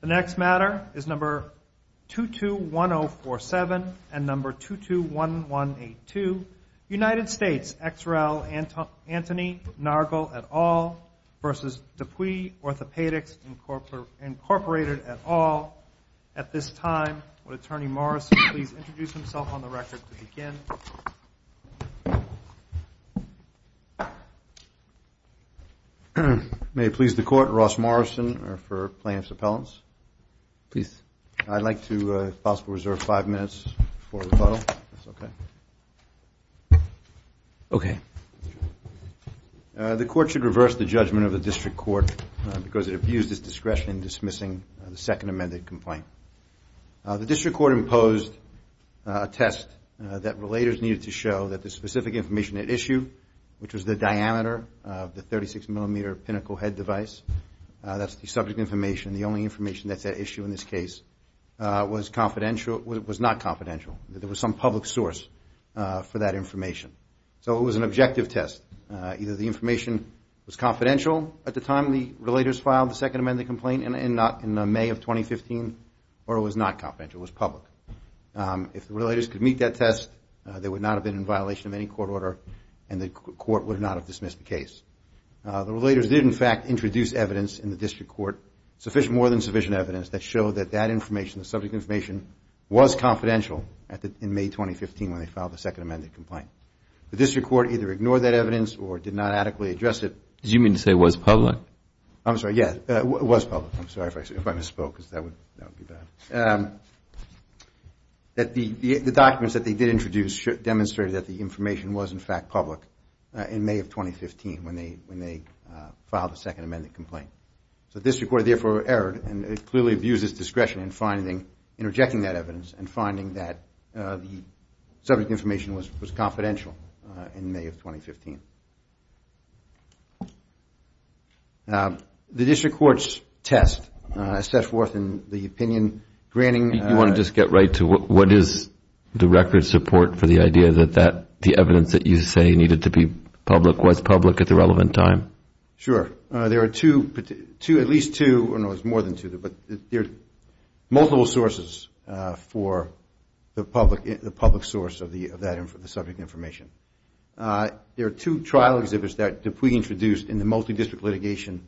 The next matter is number 221047 and number 221182. United States, ex rel. Anthony Nargol, et al. v. DePuy Orthopaedics, Incorporated, et al. At this time, would Attorney Morrison please introduce himself on the record to begin? Thank you, Your Honor. May it please the Court, Ross Morrison for plaintiff's appellants. Please. I'd like to possibly reserve five minutes for rebuttal, if that's okay. Okay. The Court should reverse the judgment of the District Court because it abused its discretion in dismissing the second amended complaint. The District Court imposed a test that relators needed to show that the specific information at issue, which was the diameter of the 36 millimeter pinnacle head device, that's the subject information. The only information that's at issue in this case was not confidential. There was some public source for that information. So it was an objective test. Either the information was confidential at the time the relators filed the second amended complaint in May of 2015 or it was not confidential, it was public. If the relators could meet that test, they would not have been in violation of any court order and the court would not have dismissed the case. The relators did, in fact, introduce evidence in the District Court, more than sufficient evidence that showed that that information, the subject information, was confidential in May 2015 when they filed the second amended complaint. The District Court either ignored that evidence or did not adequately address it. Did you mean to say it was public? I'm sorry, yes, it was public. I'm sorry if I misspoke because that would be bad. The documents that they did introduce demonstrated that the information was, in fact, public in May of 2015 when they filed the second amended complaint. So the District Court therefore erred and it clearly abuses discretion in finding, in rejecting that evidence and finding that the subject information was confidential in May of 2015. The District Court's test, as set forth in the opinion granting. You want to just get right to what is the record support for the idea that the evidence that you say needed to be public was public at the relevant time? Sure. There are two, at least two, no, there's more than two, but there are multiple sources for the public, the public source of the subject information. There are two trial exhibits that were introduced in the multi-district litigation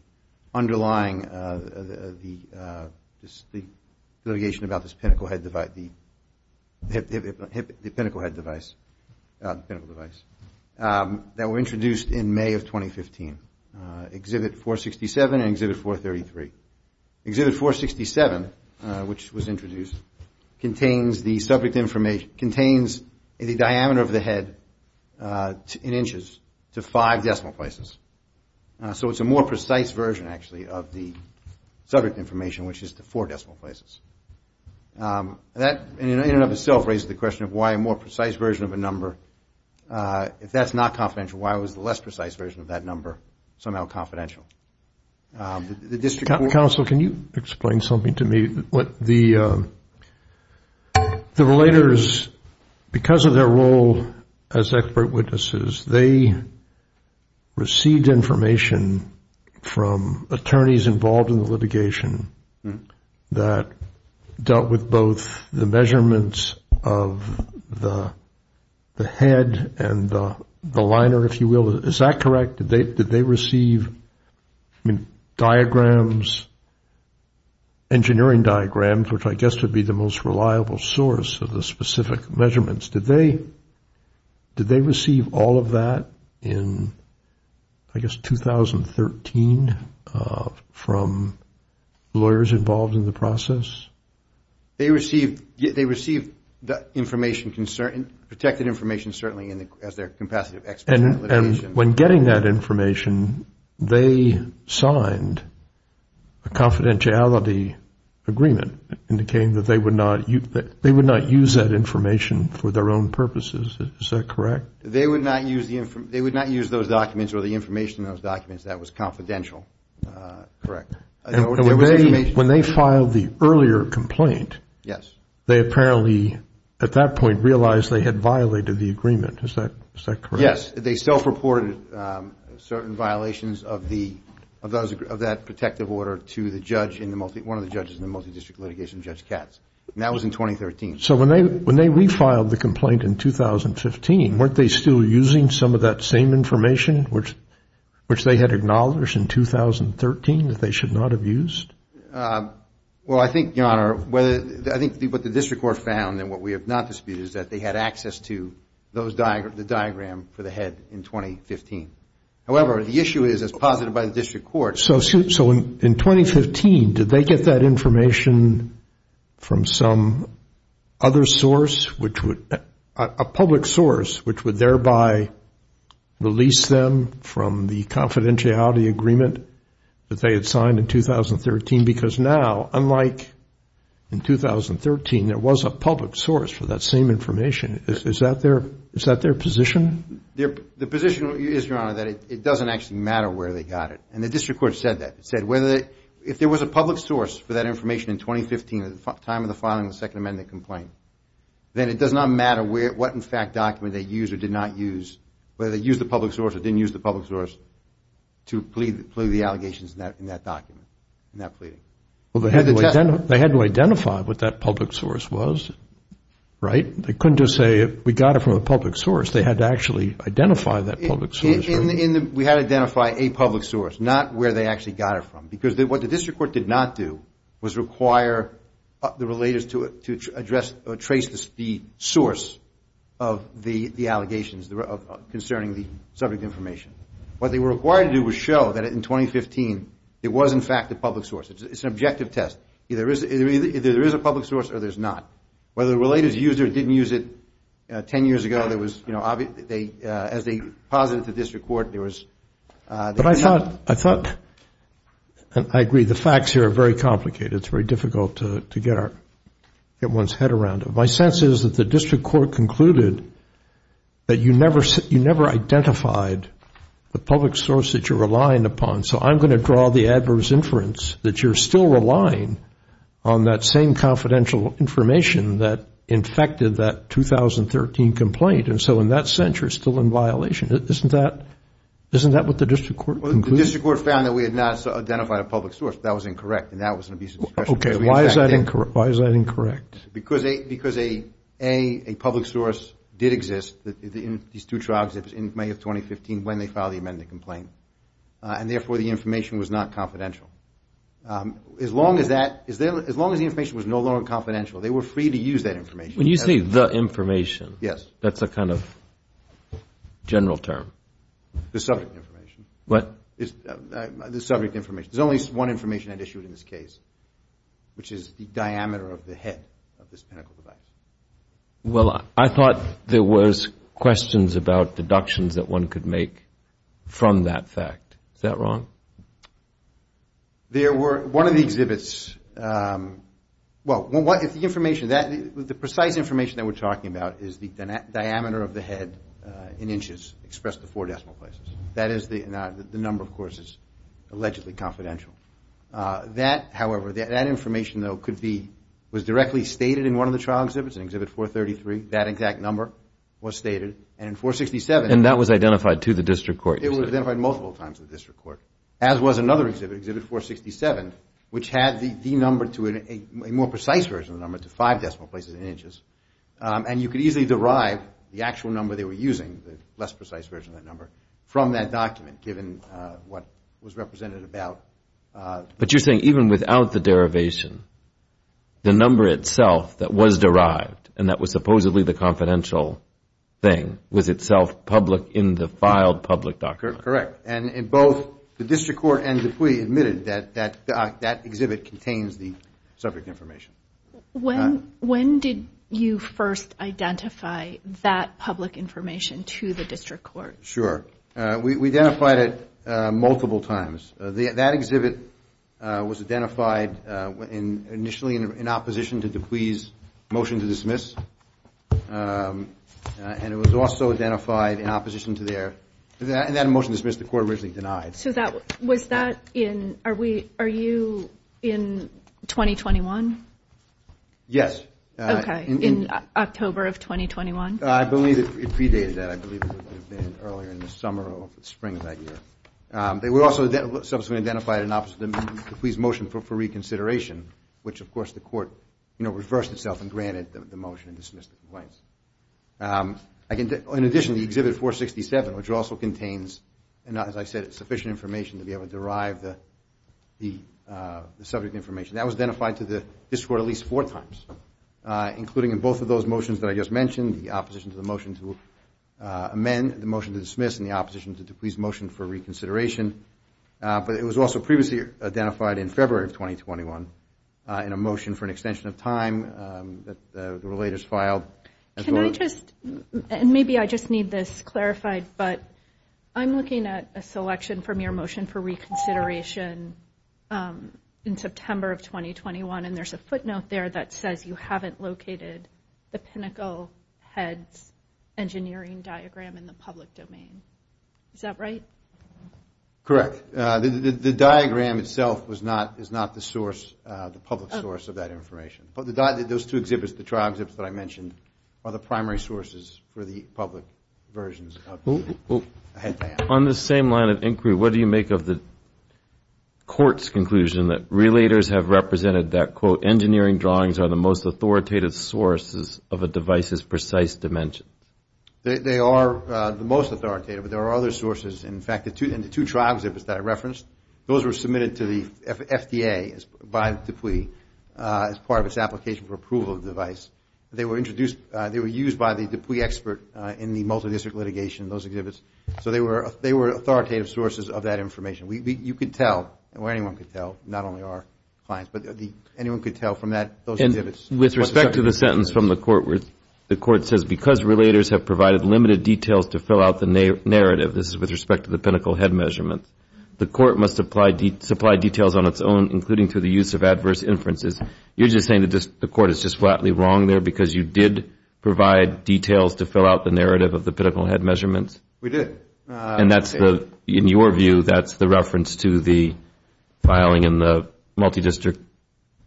underlying the litigation about this pinnacle head device, the pinnacle device that were introduced in May of 2015, Exhibit 467 and Exhibit 433. Exhibit 467, which was introduced, contains the subject information, contains the diameter of the head in inches to five decimal places. So it's a more precise version, actually, of the subject information, which is to four decimal places. That in and of itself raises the question of why a more precise version of a number, if that's not confidential, why was the less precise version of that number somehow confidential? The district court. Counsel, can you explain something to me? The relators, because of their role as expert witnesses, they received information from attorneys involved in the litigation that dealt with both the measurements of the head and the liner, if you will. Is that correct? Did they receive, I mean, diagrams, engineering diagrams, which I guess would be the most reliable source of the specific measurements. Did they receive all of that in, I guess, 2013 from lawyers involved in the process? They received the information, protected information, certainly, as their compassionate expert. And when getting that information, they signed a confidentiality agreement indicating that they would not use that information for their own purposes. Is that correct? They would not use those documents or the information in those documents. That was confidential. Correct. When they filed the earlier complaint, they apparently, at that point, realized they had violated the agreement. Is that correct? Yes. They self-reported certain violations of that protective order to the judge, one of the judges in the multidistrict litigation, Judge Katz. And that was in 2013. So when they refiled the complaint in 2015, weren't they still using some of that same information, which they had acknowledged in 2013 that they should not have used? Well, I think, Your Honor, what the district court found and what we have not disputed is that they had access to the diagram for the head in 2015. However, the issue is, as posited by the district court. So in 2015, did they get that information from some other source, a public source, which would thereby release them from the confidentiality agreement that they had signed in 2013? Because now, unlike in 2013, there was a public source for that same information. Is that their position? The position is, Your Honor, that it doesn't actually matter where they got it. And the district court said that. It said if there was a public source for that information in 2015, at the time of the filing of the Second Amendment complaint, then it does not matter what, in fact, document they used or did not use, whether they used the public source or didn't use the public source, to plead the allegations in that document, in that pleading. Well, they had to identify what that public source was, right? They couldn't just say we got it from a public source. They had to actually identify that public source. We had to identify a public source, not where they actually got it from. Because what the district court did not do was require the relators to address or trace the source of the allegations concerning the subject information. What they were required to do was show that in 2015, it was, in fact, a public source. It's an objective test. Either there is a public source or there's not. Whether the relators used it or didn't use it, 10 years ago, as they posited to the district court, there was. But I thought, and I agree, the facts here are very complicated. It's very difficult to get one's head around it. My sense is that the district court concluded that you never identified the public source that you're relying upon, so I'm going to draw the adverse inference that you're still relying on that same confidential information that infected that 2013 complaint. And so in that sense, you're still in violation. Isn't that what the district court concluded? Well, the district court found that we had not identified a public source. That was incorrect, and that was an abuse of discretion. Okay, why is that incorrect? Because, A, a public source did exist in these two trials in May of 2015 when they filed the amended complaint, and therefore the information was not confidential. As long as the information was no longer confidential, they were free to use that information. When you say the information, that's a kind of general term. The subject information. What? The subject information. There's only one information I'd issued in this case, which is the diameter of the head of this pinnacle device. Well, I thought there was questions about deductions that one could make from that fact. Is that wrong? There were. One of the exhibits, well, the information, the precise information that we're talking about is the diameter of the head in inches expressed to four decimal places. That is the number, of course, is allegedly confidential. That, however, that information, though, could be, was directly stated in one of the trial exhibits, in exhibit 433, that exact number was stated. And in 467. And that was identified to the district court. It was identified multiple times to the district court, as was another exhibit, exhibit 467, which had the number to a more precise version of the number to five decimal places in inches. And you could easily derive the actual number they were using, the less precise version of that number, from that document, given what was represented about. But you're saying even without the derivation, the number itself that was derived, and that was supposedly the confidential thing, was itself public in the filed public document? Correct. And both the district court and Dupuy admitted that that exhibit contains the subject information. When did you first identify that public information to the district court? Sure. We identified it multiple times. That exhibit was identified initially in opposition to Dupuy's motion to dismiss. And it was also identified in opposition to their, in that motion to dismiss, the court originally denied. So that, was that in, are we, are you in 2021? Yes. Okay. In October of 2021? I believe it predated that. I believe it would have been earlier in the summer or spring of that year. They were also subsequently identified in opposition to Dupuy's motion for reconsideration, which, of course, the court, you know, reversed itself and granted the motion and dismissed the complaints. In addition, the exhibit 467, which also contains, as I said, sufficient information to be able to derive the subject information, that was identified to the district court at least four times, including in both of those motions that I just mentioned, the opposition to the motion to amend, the motion to dismiss, and the opposition to Dupuy's motion for reconsideration. But it was also previously identified in February of 2021 in a motion for an extension of time that the relators filed. Can I just, and maybe I just need this clarified, but I'm looking at a selection from your motion for reconsideration in September of 2021, and there's a footnote there that says you haven't located the Pinnacle Heads engineering diagram in the public domain. Is that right? Correct. The diagram itself was not, is not the source, the public source of that information. But those two exhibits, the trial exhibits that I mentioned, are the primary sources for the public versions. On the same line of inquiry, what do you make of the court's conclusion that relators have represented that, quote, engineering drawings are the most authoritative sources of a device's precise dimensions? They are the most authoritative, but there are other sources. In fact, the two trials exhibits that I referenced, those were submitted to the FDA by Dupuy as part of its application for approval of the device. They were introduced, they were used by the Dupuy expert in the multi-district litigation, those exhibits. So they were authoritative sources of that information. You could tell, or anyone could tell, not only our clients, but anyone could tell from that, those exhibits. And with respect to the sentence from the court, the court says, because relators have provided limited details to fill out the narrative, this is with respect to the Pinnacle Head measurement, the court must supply details on its own, including through the use of adverse inferences. You're just saying that the court is just flatly wrong there because you did provide details to fill out the narrative of the Pinnacle Head measurements? We did. And that's the, in your view, that's the reference to the filing in the multi-district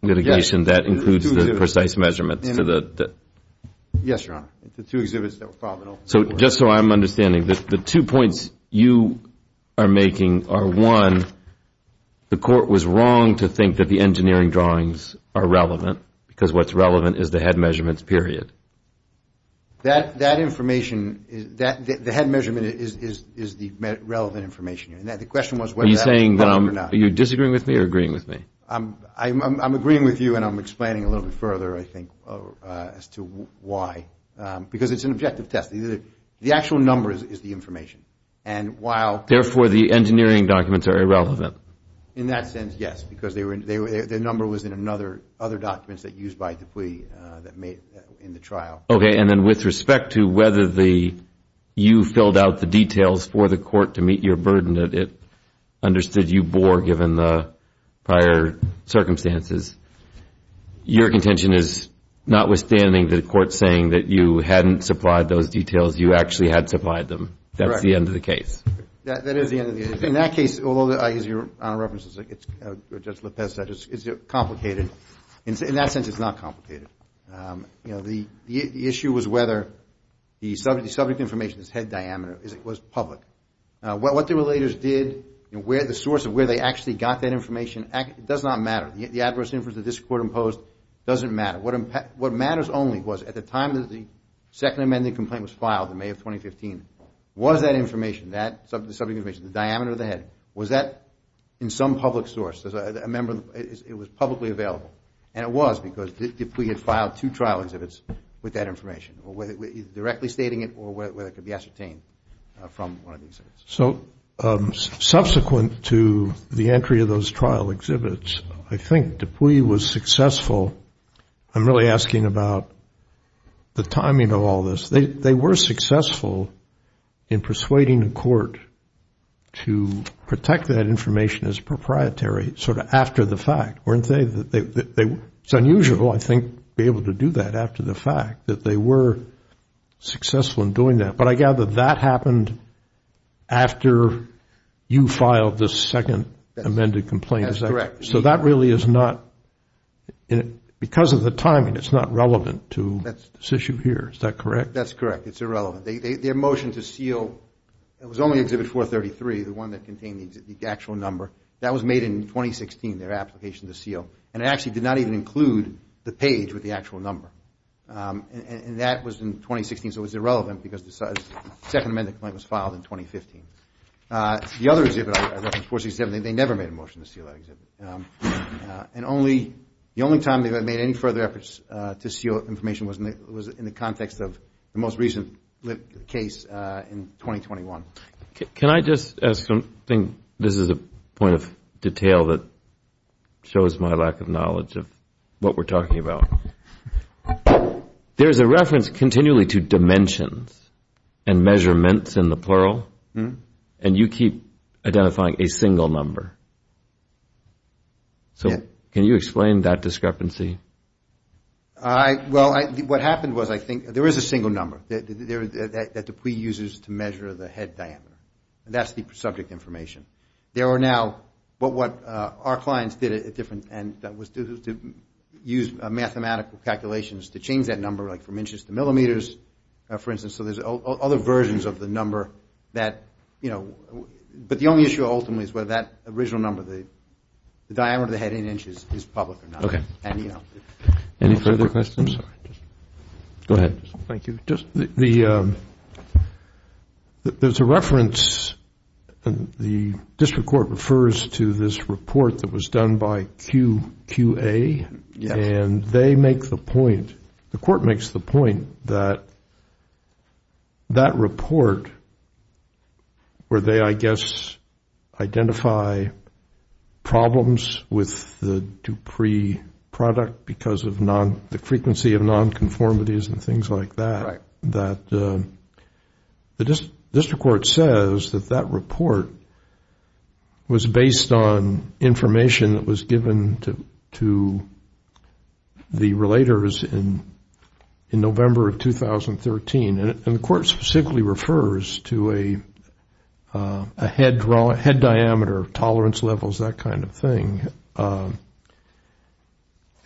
litigation that includes the precise measurements? Yes, Your Honor. The two exhibits that were filed in open court. So just so I'm understanding, the two points you are making are, one, the court was wrong to think that the engineering drawings are relevant because what's relevant is the head measurements, period. That information, the head measurement is the relevant information. The question was whether that was correct or not. Are you disagreeing with me or agreeing with me? I'm agreeing with you, and I'm explaining a little bit further, I think, as to why. Because it's an objective test. The actual number is the information. Therefore, the engineering documents are irrelevant? In that sense, yes, because the number was in other documents that used by the plea in the trial. Okay, and then with respect to whether you filled out the details for the court to meet your burden that it understood you bore, given the prior circumstances, your contention is, notwithstanding the court saying that you hadn't supplied those details, you actually had supplied them. Correct. That's the end of the case. That is the end of the case. In that case, although, as Your Honor references, as Judge Lopez said, it's complicated. In that sense, it's not complicated. The issue was whether the subject information, this head diameter, was public. What the relators did and the source of where they actually got that information does not matter. The adverse inference that this court imposed doesn't matter. What matters only was at the time that the second amending complaint was filed in May of 2015, was that information, the subject information, the diameter of the head, was that in some public source? It was publicly available. And it was because Dupuy had filed two trial exhibits with that information, either directly stating it or whether it could be ascertained from one of the exhibits. So subsequent to the entry of those trial exhibits, I think Dupuy was successful. I'm really asking about the timing of all this. They were successful in persuading the court to protect that information as proprietary, sort of after the fact, weren't they? It's unusual, I think, to be able to do that after the fact, that they were successful in doing that. But I gather that happened after you filed the second amended complaint. That's correct. So that really is not, because of the timing, it's not relevant to this issue here. Is that correct? That's correct. It's irrelevant. Their motion to seal, it was only exhibit 433, the one that contained the actual number. That was made in 2016, their application to seal. And it actually did not even include the page with the actual number. And that was in 2016, so it was irrelevant because the second amended complaint was filed in 2015. The other exhibit I referenced, 467, they never made a motion to seal that exhibit. And the only time they made any further efforts to seal information was in the context of the most recent case in 2021. Can I just ask something? This is a point of detail that shows my lack of knowledge of what we're talking about. There's a reference continually to dimensions and measurements in the plural, and you keep identifying a single number. So can you explain that discrepancy? Well, what happened was, I think, there is a single number that Dupuis uses to measure the head diameter. And that's the subject information. There are now, but what our clients did at different, and that was to use mathematical calculations to change that number, like from inches to millimeters, for instance. So there's other versions of the number that, you know, but the only issue ultimately is whether that original number, the diameter of the head in inches is public or not. Okay. Any further questions? Go ahead. Thank you. There's a reference, the district court refers to this report that was done by QQA. Yes. And they make the point, the court makes the point that that report where they, I guess, identify problems with the Dupuis product because of the frequency of non-conformities and things like that, that the district court says that that report was based on information that was given to the relators in November of 2013. And the court specifically refers to a head diameter, tolerance levels, that kind of thing.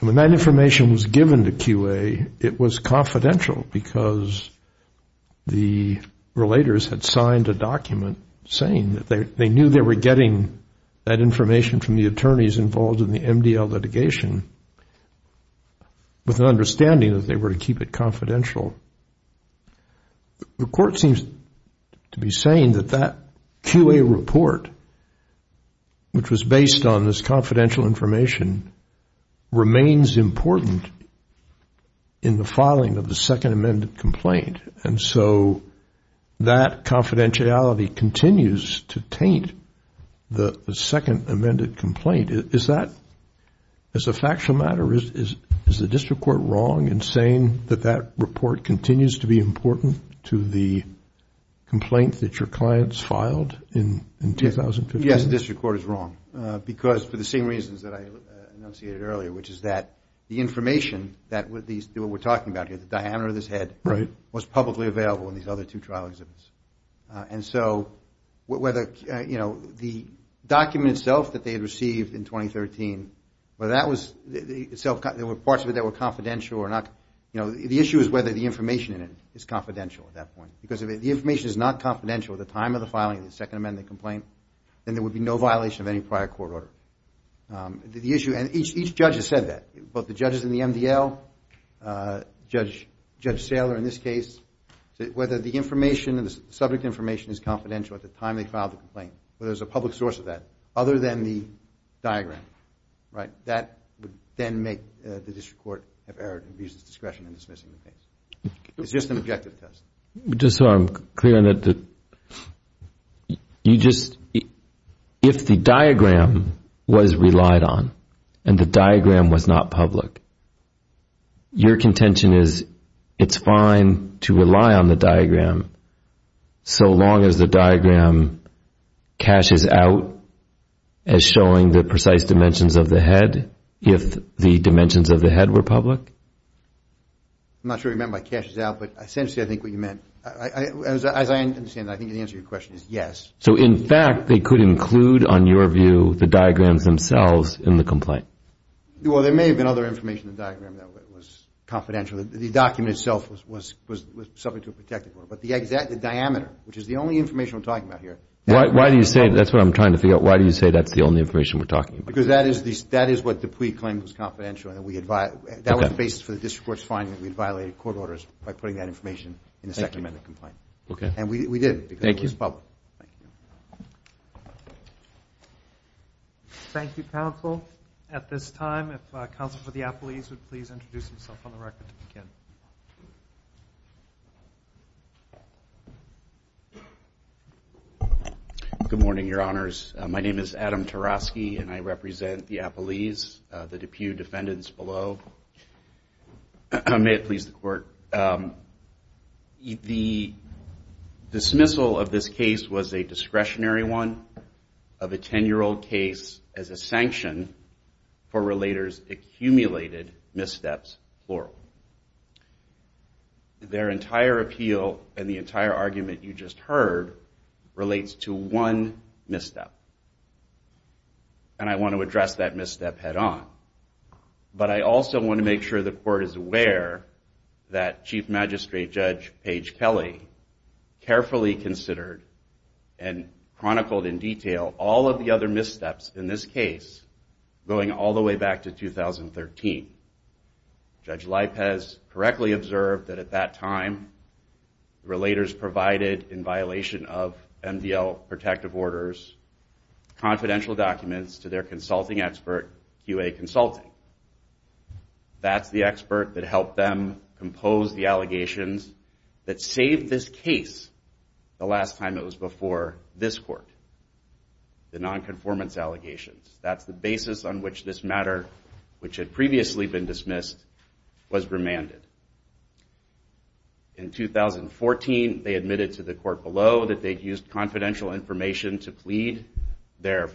And when that information was given to QA, it was confidential because the relators had signed a document saying that they knew they were getting that information from the attorneys involved in the MDL litigation with an understanding that they were to keep it confidential. The court seems to be saying that that QA report, which was based on this confidential information, remains important in the filing of the second amended complaint. And so that confidentiality continues to taint the second amended complaint. Is that, as a factual matter, is the district court wrong in saying that that report continues to be important to the complaint that your clients filed in 2015? Yes, the district court is wrong because for the same reasons that I enunciated earlier, which is that the information that we're talking about here, the diameter of this head, was publicly available in these other two trial exhibits. And so whether, you know, the document itself that they had received in 2013, whether that was, there were parts of it that were confidential or not, you know, the issue is whether the information in it is confidential at that point. Because if the information is not confidential at the time of the filing of the second amended complaint, then there would be no violation of any prior court order. The issue, and each judge has said that, both the judges in the MDL, Judge Saylor in this case, whether the information, the subject information is confidential at the time they filed the complaint, whether there's a public source of that, other than the diagram, right, that would then make the district court have errored in abusing its discretion in dismissing the case. It's just an objective test. Just so I'm clear on that, you just, if the diagram was relied on and the diagram was not public, your contention is it's fine to rely on the diagram so long as the diagram caches out as showing the precise dimensions of the head if the dimensions of the head were public? I'm not sure what you meant by caches out, but essentially I think what you meant. As I understand it, I think the answer to your question is yes. So, in fact, they could include, on your view, the diagrams themselves in the complaint? Well, there may have been other information in the diagram that was confidential. The document itself was subject to a protective order, but the exact diameter, which is the only information we're talking about here. Why do you say, that's what I'm trying to figure out, why do you say that's the only information we're talking about here? Because that is what the plea claim was confidential and that we had, that was the basis for the district court's finding that we had violated court orders by putting that information in the second amendment complaint. Okay. And we didn't because it was public. Thank you. Thank you, counsel. At this time, if counsel for the appellees would please introduce himself on the record again. Good morning, your honors. My name is Adam Tarosky and I represent the appellees, the DePue defendants below. May it please the court. The dismissal of this case was a discretionary one of a 10-year-old case as a sanction for relators' accumulated missteps, plural. Their entire appeal and the entire argument you just heard relates to one misstep. And I want to address that misstep head on. But I also want to make sure the court is aware that Chief Magistrate Judge Paige Kelly carefully considered and chronicled in detail all of the other missteps in this case going all the way back to 2013. Judge Lipez correctly observed that at that time, relators provided in violation of MDL protective orders, confidential documents to their consulting expert, QA Consulting. That's the expert that helped them compose the allegations that saved this case the last time it was before this court, the non-conformance allegations. That's the basis on which this matter, which had previously been dismissed, was remanded. In 2014, they admitted to the court below that they'd used confidential information to plead their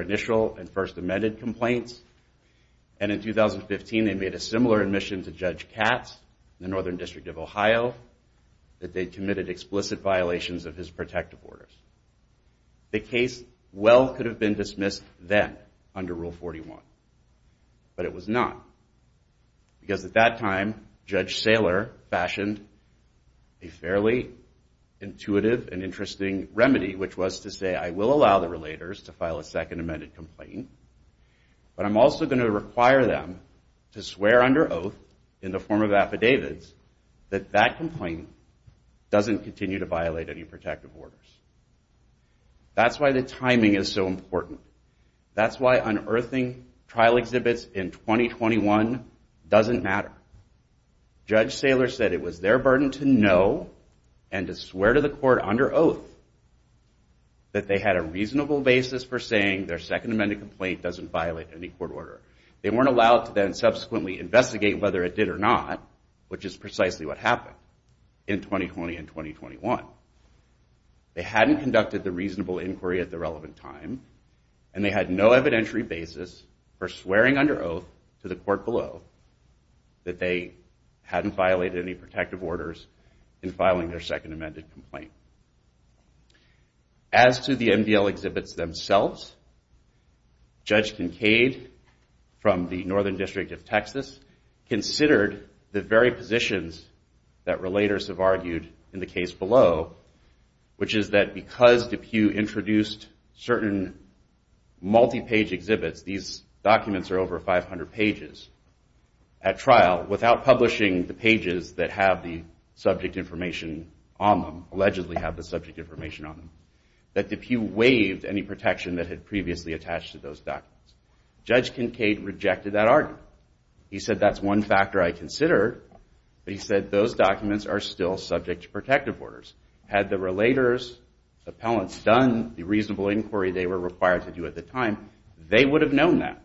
initial and first amended complaints. And in 2015, they made a similar admission to Judge Katz in the Northern District of Ohio that they'd committed explicit violations of his protective orders. The case well could have been dismissed then under Rule 41. But it was not. Because at that time, Judge Saylor fashioned a fairly intuitive and interesting remedy, which was to say, I will allow the relators to file a second amended complaint, but I'm also going to require them to swear under oath in the form of affidavits that that complaint doesn't continue to violate any protective orders. That's why the timing is so important. That's why unearthing trial exhibits in 2021 doesn't matter. Judge Saylor said it was their burden to know and to swear to the court under oath that they had a reasonable basis for saying their second amended complaint doesn't violate any court order. They weren't allowed to then subsequently investigate whether it did or not, which is precisely what happened in 2020 and 2021. They hadn't conducted the reasonable inquiry at the relevant time, and they had no evidentiary basis for swearing under oath to the court below that they hadn't violated any protective orders in filing their second amended complaint. As to the MDL exhibits themselves, Judge Kincaid from the Northern District of Texas considered the very positions that relators have argued in the case below, which is that because DePue introduced certain multi-page exhibits, these documents are over 500 pages at trial, without publishing the pages that have the subject information on them, allegedly have the subject information on them, that DePue waived any protection that had previously attached to those documents. Judge Kincaid rejected that argument. He said that's one factor I considered, but he said those documents are still subject to protective orders. Had the relators, appellants, done the reasonable inquiry they were required to do at the time, they would have known that.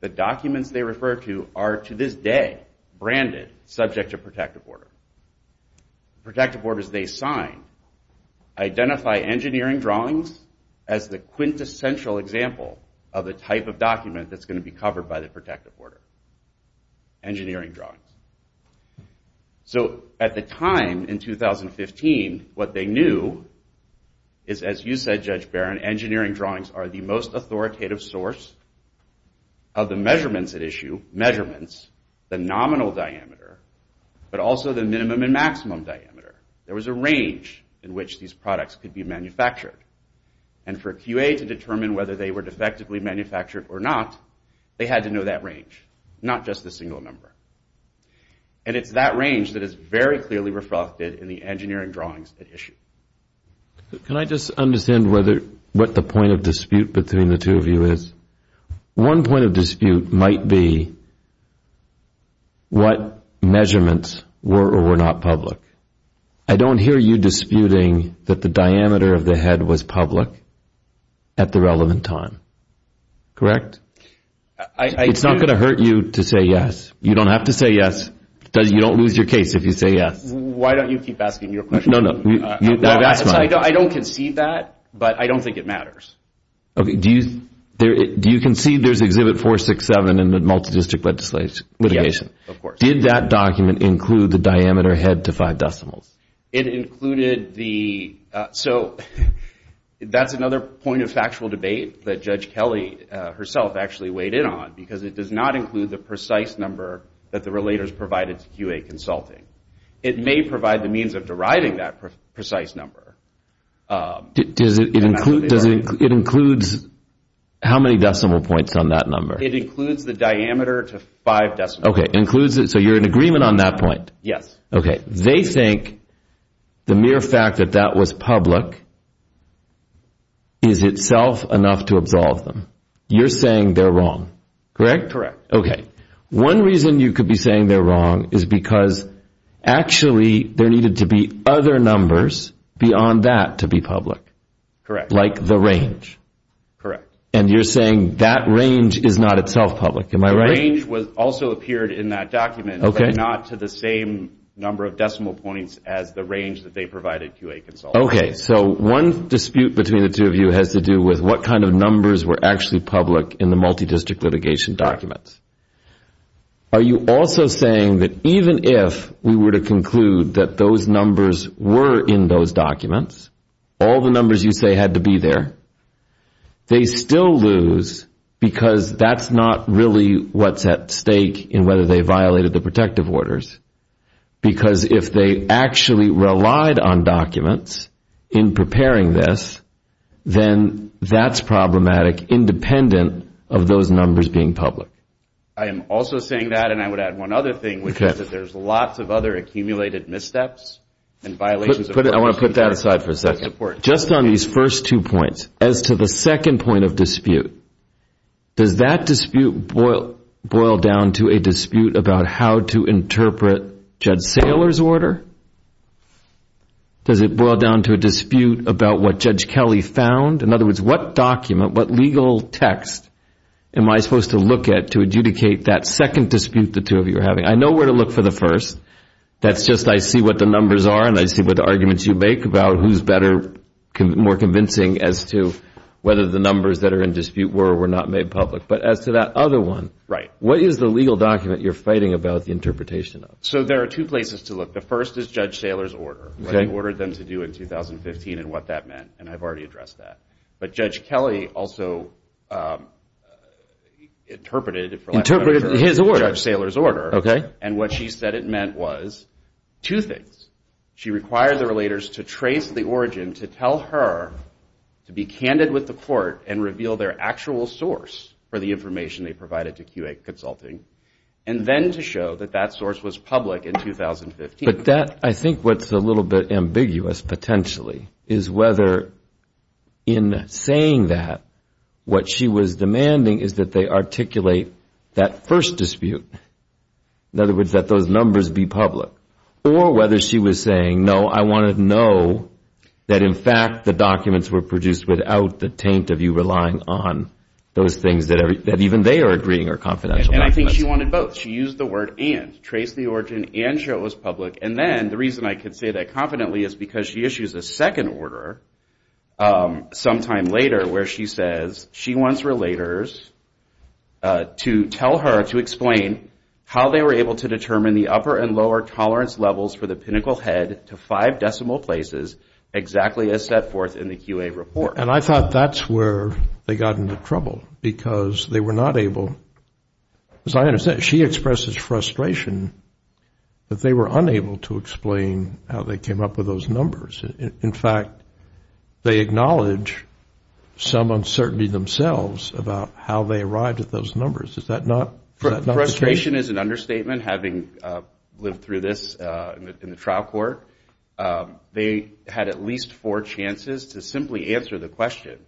The documents they refer to are to this day branded subject to protective order. Protective orders they sign identify engineering drawings as the quintessential example of the type of document that's going to be covered by the protective order. Engineering drawings. So at the time in 2015, what they knew is as you said, Judge Barron, engineering drawings are the most authoritative source of the measurements at issue, measurements, the nominal diameter, but also the minimum and maximum diameter. There was a range in which these products could be manufactured. And for QA to determine whether they were defectively manufactured or not, they had to know that range, not just the single number. And it's that range that is very clearly reflected in the engineering drawings at issue. Can I just understand what the point of dispute between the two of you is? One point of dispute might be what measurements were or were not public. I don't hear you disputing that the diameter of the head was public at the relevant time. Correct? It's not going to hurt you to say yes. You don't have to say yes. You don't lose your case if you say yes. Why don't you keep asking your question? No, no. I don't conceive that, but I don't think it matters. Okay. Do you conceive there's Exhibit 467 in the multidistrict litigation? Yes, of course. Did that document include the diameter head to five decimals? It included the – so that's another point of factual debate that Judge Kelly herself actually weighed in on because it does not include the precise number that the relators provided to QA Consulting. It may provide the means of deriving that precise number. It includes how many decimal points on that number? It includes the diameter to five decimals. Okay. So you're in agreement on that point? Yes. Okay. They think the mere fact that that was public is itself enough to absolve them. You're saying they're wrong. Correct? Correct. Okay. One reason you could be saying they're wrong is because actually there needed to be other numbers beyond that to be public. Correct. Like the range. Correct. And you're saying that range is not itself public. Am I right? The range also appeared in that document. Okay. But not to the same number of decimal points as the range that they provided QA Consulting. Okay. So one dispute between the two of you has to do with what kind of numbers were actually public in the multidistrict litigation documents. Are you also saying that even if we were to conclude that those numbers were in those documents, all the numbers you say had to be there, they still lose because that's not really what's at stake in whether they violated the protective orders. Because if they actually relied on documents in preparing this, then that's problematic independent of those numbers being public. I am also saying that, and I would add one other thing, which is that there's lots of other accumulated missteps and violations. I want to put that aside for a second. Just on these first two points, as to the second point of dispute, does that dispute boil down to a dispute about how to interpret Judge Saylor's order? Does it boil down to a dispute about what Judge Kelly found? In other words, what document, what legal text am I supposed to look at to adjudicate that second dispute the two of you are having? I know where to look for the first. That's just I see what the numbers are, and I see what arguments you make about who's better, more convincing as to whether the numbers that are in dispute were or were not made public. But as to that other one, what is the legal document you're fighting about the interpretation of? There are two places to look. The first is Judge Saylor's order, what he ordered them to do in 2015 and what that meant, and I've already addressed that. But Judge Kelly also interpreted it for the last time. Interpreted his order. Judge Saylor's order. Okay. And what she said it meant was two things. She required the relators to trace the origin to tell her to be candid with the court and reveal their actual source for the information they provided to QA Consulting, and then to show that that source was public in 2015. But that I think what's a little bit ambiguous potentially is whether in saying that what she was demanding is that they articulate that first dispute. In other words, that those numbers be public. Or whether she was saying, no, I want to know that, in fact, the documents were produced without the taint of you relying on those things that even they are agreeing are confidential documents. And I think she wanted both. But she used the word and. Trace the origin and show it was public. And then the reason I can say that confidently is because she issues a second order sometime later where she says she wants relators to tell her to explain how they were able to determine the upper and lower tolerance levels for the pinnacle head to five decimal places exactly as set forth in the QA report. And I thought that's where they got into trouble because they were not able. As I understand, she expresses frustration that they were unable to explain how they came up with those numbers. In fact, they acknowledge some uncertainty themselves about how they arrived at those numbers. Is that not frustration is an understatement. Having lived through this in the trial court, they had at least four chances to simply answer the question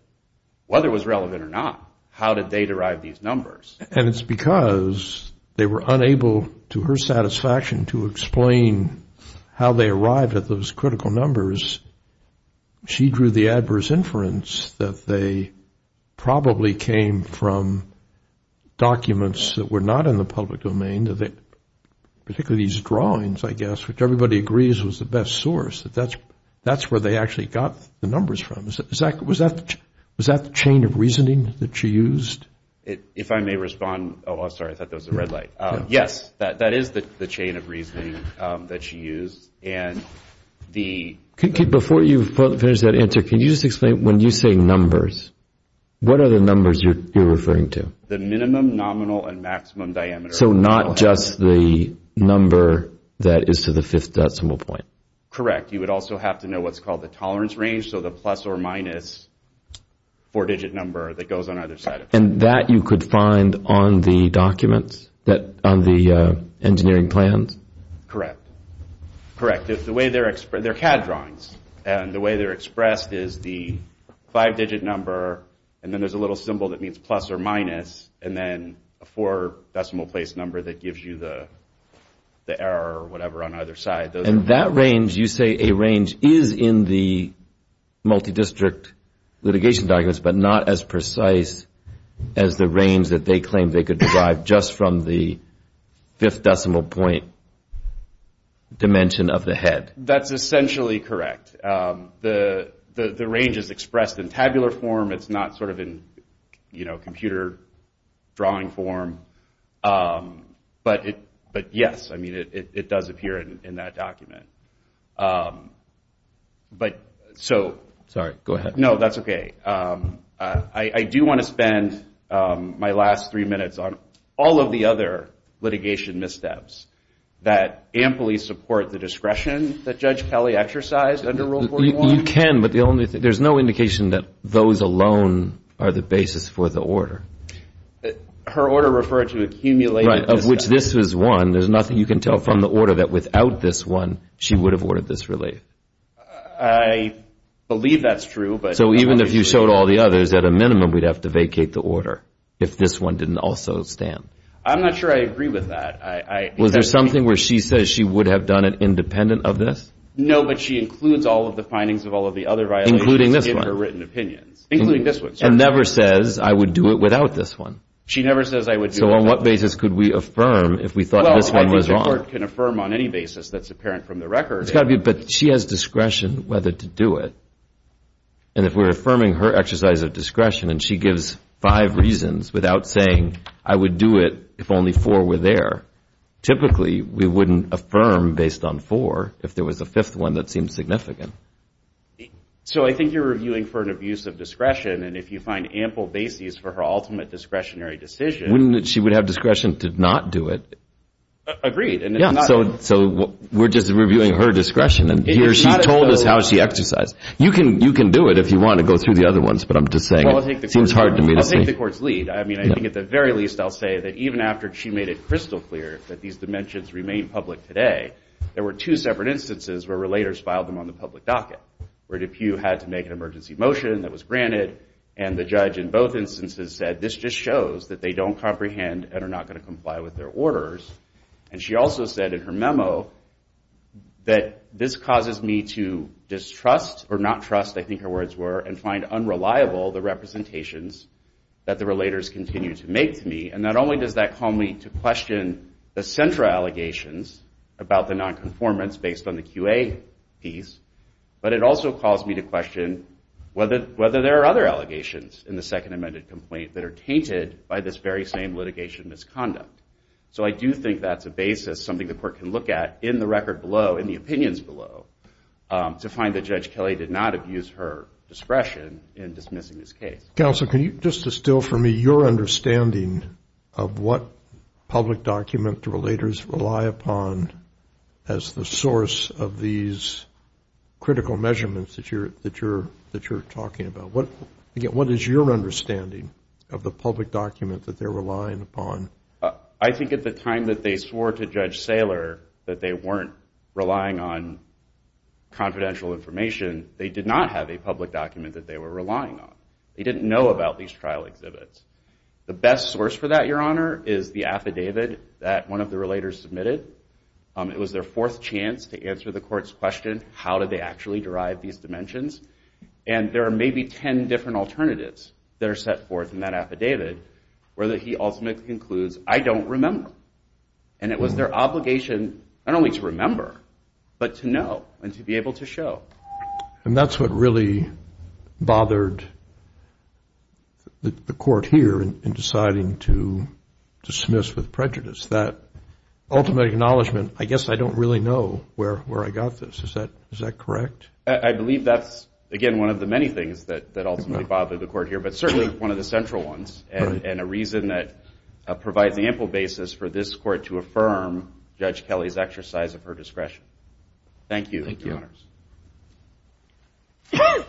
whether it was relevant or not. How did they derive these numbers? And it's because they were unable to her satisfaction to explain how they arrived at those critical numbers. She drew the adverse inference that they probably came from documents that were not in the public domain, particularly these drawings, I guess, which everybody agrees was the best source. That's where they actually got the numbers from. Was that the chain of reasoning that she used? If I may respond. Oh, I'm sorry. I thought there was a red light. Yes, that is the chain of reasoning that she used. Before you finish that answer, can you just explain when you say numbers, what are the numbers you're referring to? The minimum, nominal, and maximum diameter. So not just the number that is to the fifth decimal point. Correct. You would also have to know what's called the tolerance range, so the plus or minus four-digit number that goes on either side. And that you could find on the documents, on the engineering plans? Correct. They're CAD drawings, and the way they're expressed is the five-digit number, and then there's a little symbol that means plus or minus, and then a four-decimal place number that gives you the error or whatever on either side. And that range, you say a range is in the multi-district litigation documents, but not as precise as the range that they claim they could derive just from the fifth decimal point dimension of the head. That's essentially correct. The range is expressed in tabular form. It's not sort of in, you know, computer drawing form. But yes, I mean, it does appear in that document. Sorry, go ahead. No, that's okay. I do want to spend my last three minutes on all of the other litigation missteps that amply support the discretion that Judge Kelly exercised under Rule 41. You can, but there's no indication that those alone are the basis for the order. Her order referred to accumulated missteps. Right, of which this was one. There's nothing you can tell from the order that without this one, she would have ordered this relief. I believe that's true. So even if you showed all the others, at a minimum, we'd have to vacate the order if this one didn't also stand. I'm not sure I agree with that. Was there something where she says she would have done it independent of this? No, but she includes all of the findings of all of the other violations. Including this one. In her written opinions. Including this one, sorry. And never says, I would do it without this one. She never says I would do it without this one. So on what basis could we affirm if we thought this one was wrong? Well, a court can affirm on any basis that's apparent from the record. But she has discretion whether to do it. And if we're affirming her exercise of discretion and she gives five reasons without saying I would do it if only four were there, typically we wouldn't affirm based on four if there was a fifth one that seemed significant. So I think you're reviewing for an abuse of discretion. And if you find ample basis for her ultimate discretionary decision. Wouldn't she have discretion to not do it? Agreed. So we're just reviewing her discretion. And here she told us how she exercised. You can do it if you want to go through the other ones. But I'm just saying it seems hard to me to say. I'll take the court's lead. I mean, I think at the very least I'll say that even after she made it crystal clear that these dimensions remain public today, there were two separate instances where relators filed them on the public docket. Where DePue had to make an emergency motion that was granted. And the judge in both instances said this just shows that they don't comprehend and are not going to comply with their orders. And she also said in her memo that this causes me to distrust or not trust, I think her words were, and find unreliable the representations that the relators continue to make to me. And not only does that call me to question the central allegations about the nonconformance based on the QA piece, but it also calls me to question whether there are other allegations in the second amended complaint that are tainted by this very same litigation misconduct. So I do think that's a basis, something the court can look at in the record below, in the opinions below, to find that Judge Kelly did not abuse her discretion in dismissing this case. Counsel, can you just distill for me your understanding of what public document the relators rely upon as the source of these critical measurements that you're talking about? Again, what is your understanding of the public document that they're relying upon? I think at the time that they swore to Judge Saylor that they weren't relying on confidential information, they did not have a public document that they were relying on. They didn't know about these trial exhibits. The best source for that, Your Honor, is the affidavit that one of the relators submitted. It was their fourth chance to answer the court's question, how did they actually derive these dimensions? And there are maybe ten different alternatives that are set forth in that affidavit, where he ultimately concludes, I don't remember. And it was their obligation not only to remember, but to know and to be able to show. And that's what really bothered the court here in deciding to dismiss with prejudice, that ultimate acknowledgment, I guess I don't really know where I got this. Is that correct? I believe that's, again, one of the many things that ultimately bothered the court here, but certainly one of the central ones and a reason that provides the ample basis for this court to affirm Judge Kelly's exercise of her discretion. Thank you, Your Honors.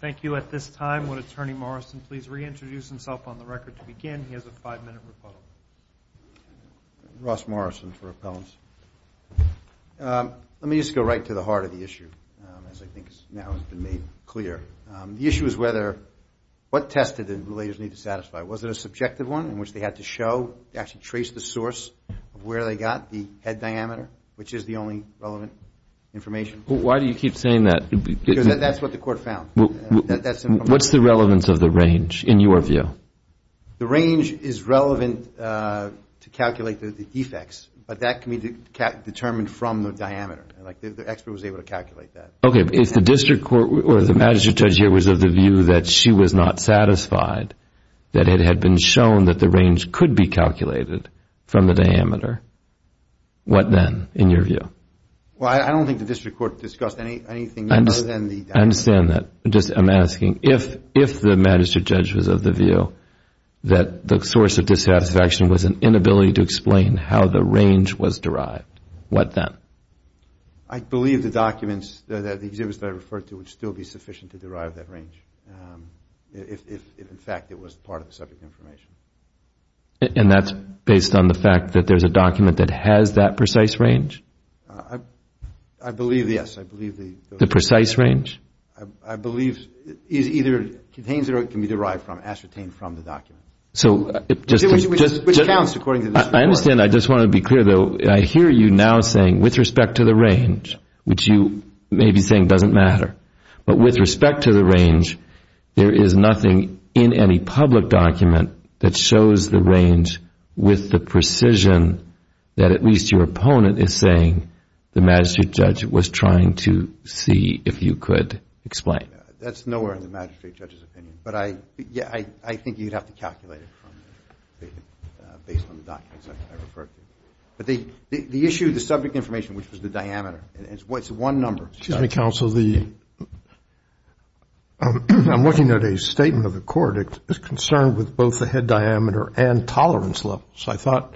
Thank you. At this time, would Attorney Morrison please reintroduce himself on the record to begin? He has a five-minute rebuttal. Ross Morrison for appellants. Let me just go right to the heart of the issue, as I think now has been made clear. The issue is whether, what test did the relators need to satisfy? Was it a subjective one in which they had to show, actually trace the source of where they got the head diameter, which is the only relevant information? Why do you keep saying that? Because that's what the court found. What's the relevance of the range in your view? The range is relevant to calculate the defects, but that can be determined from the diameter. The expert was able to calculate that. Okay. If the district court or the magistrate judge here was of the view that she was not satisfied, that it had been shown that the range could be calculated from the diameter, what then, in your view? Well, I don't think the district court discussed anything other than the diameter. I understand that. Just, I'm asking, if the magistrate judge was of the view that the source of dissatisfaction was an inability to explain how the range was derived, what then? I believe the documents, the exhibits that I referred to would still be sufficient to derive that range, if, in fact, it was part of the subject information. And that's based on the fact that there's a document that has that precise range? I believe, yes, I believe the- The precise range? I believe is either contains it or it can be derived from, ascertained from the document. Which counts according to the district court. I understand. I just want to be clear, though. I hear you now saying, with respect to the range, which you may be saying doesn't matter, but with respect to the range, there is nothing in any public document that shows the range with the precision that at least your opponent is saying the magistrate judge was trying to see, if you could explain. That's nowhere in the magistrate judge's opinion. But I think you'd have to calculate it based on the documents I referred to. But the issue, the subject information, which was the diameter, it's one number. Excuse me, counsel. I'm looking at a statement of the court. It's concerned with both the head diameter and tolerance level. So I thought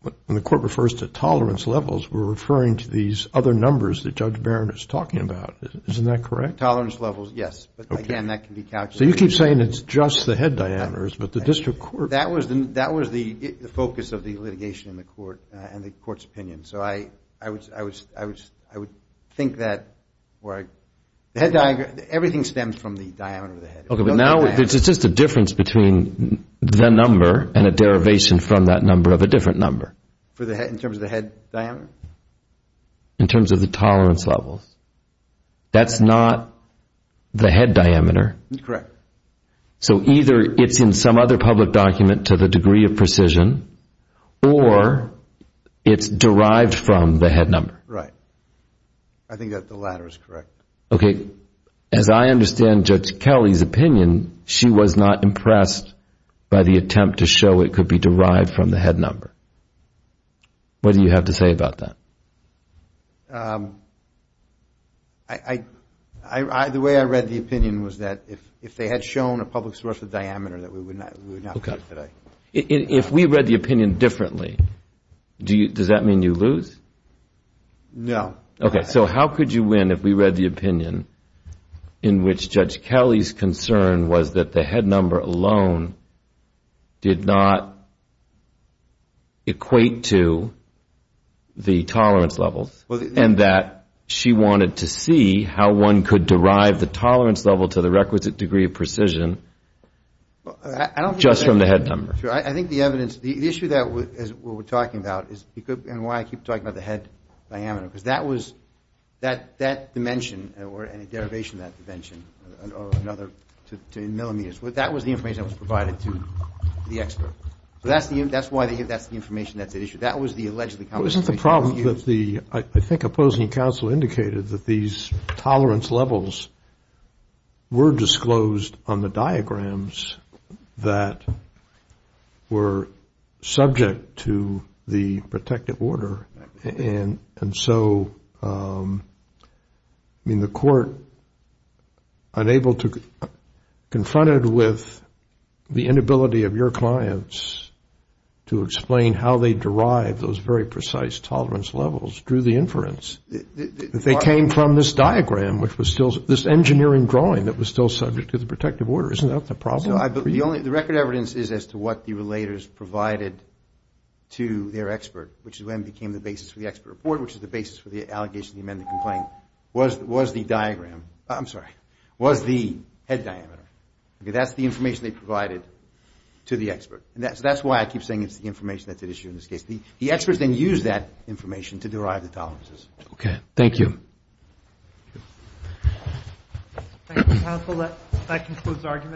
when the court refers to tolerance levels, we're referring to these other numbers that Judge Barron is talking about. Isn't that correct? Tolerance levels, yes. But, again, that can be calculated. So you keep saying it's just the head diameters, but the district court. That was the focus of the litigation in the court and the court's opinion. So I would think that the head diameter, everything stems from the diameter of the head. Okay. But now it's just a difference between the number and a derivation from that number of a different number. In terms of the head diameter? In terms of the tolerance levels. That's not the head diameter. Correct. So either it's in some other public document to the degree of precision or it's derived from the head number. Right. I think that the latter is correct. Okay. As I understand Judge Kelly's opinion, she was not impressed by the attempt to show it could be derived from the head number. What do you have to say about that? The way I read the opinion was that if they had shown a public source of diameter, that we would not cut today. If we read the opinion differently, does that mean you lose? No. Okay. So how could you win if we read the opinion in which Judge Kelly's concern was that the head number alone did not equate to the tolerance level and that she wanted to see how one could derive the tolerance level to the requisite degree of precision just from the head number? Sure. I think the evidence, the issue that we're talking about, and why I keep talking about the head diameter, because that dimension or any derivation of that dimension or another to millimeters, that was the information that was provided to the expert. So that's why that's the information that's at issue. That was the allegedly confirmation. Isn't the problem that the, I think, opposing counsel indicated that these tolerance levels were disclosed on the diagrams that were subject to the protective order? And so, I mean, the court, unable to, confronted with the inability of your clients to explain how they derived those very precise tolerance levels, drew the inference. They came from this diagram which was still, this engineering drawing that was still subject to the protective order. Isn't that the problem? The record evidence is as to what the relators provided to their expert, which then became the basis for the expert report, which is the basis for the allegation to amend the complaint, was the diagram. I'm sorry. Was the head diameter. That's the information they provided to the expert. That's why I keep saying it's the information that's at issue in this case. The experts then used that information to derive the tolerances. Okay. Thank you. Thank you, counsel. That concludes the argument.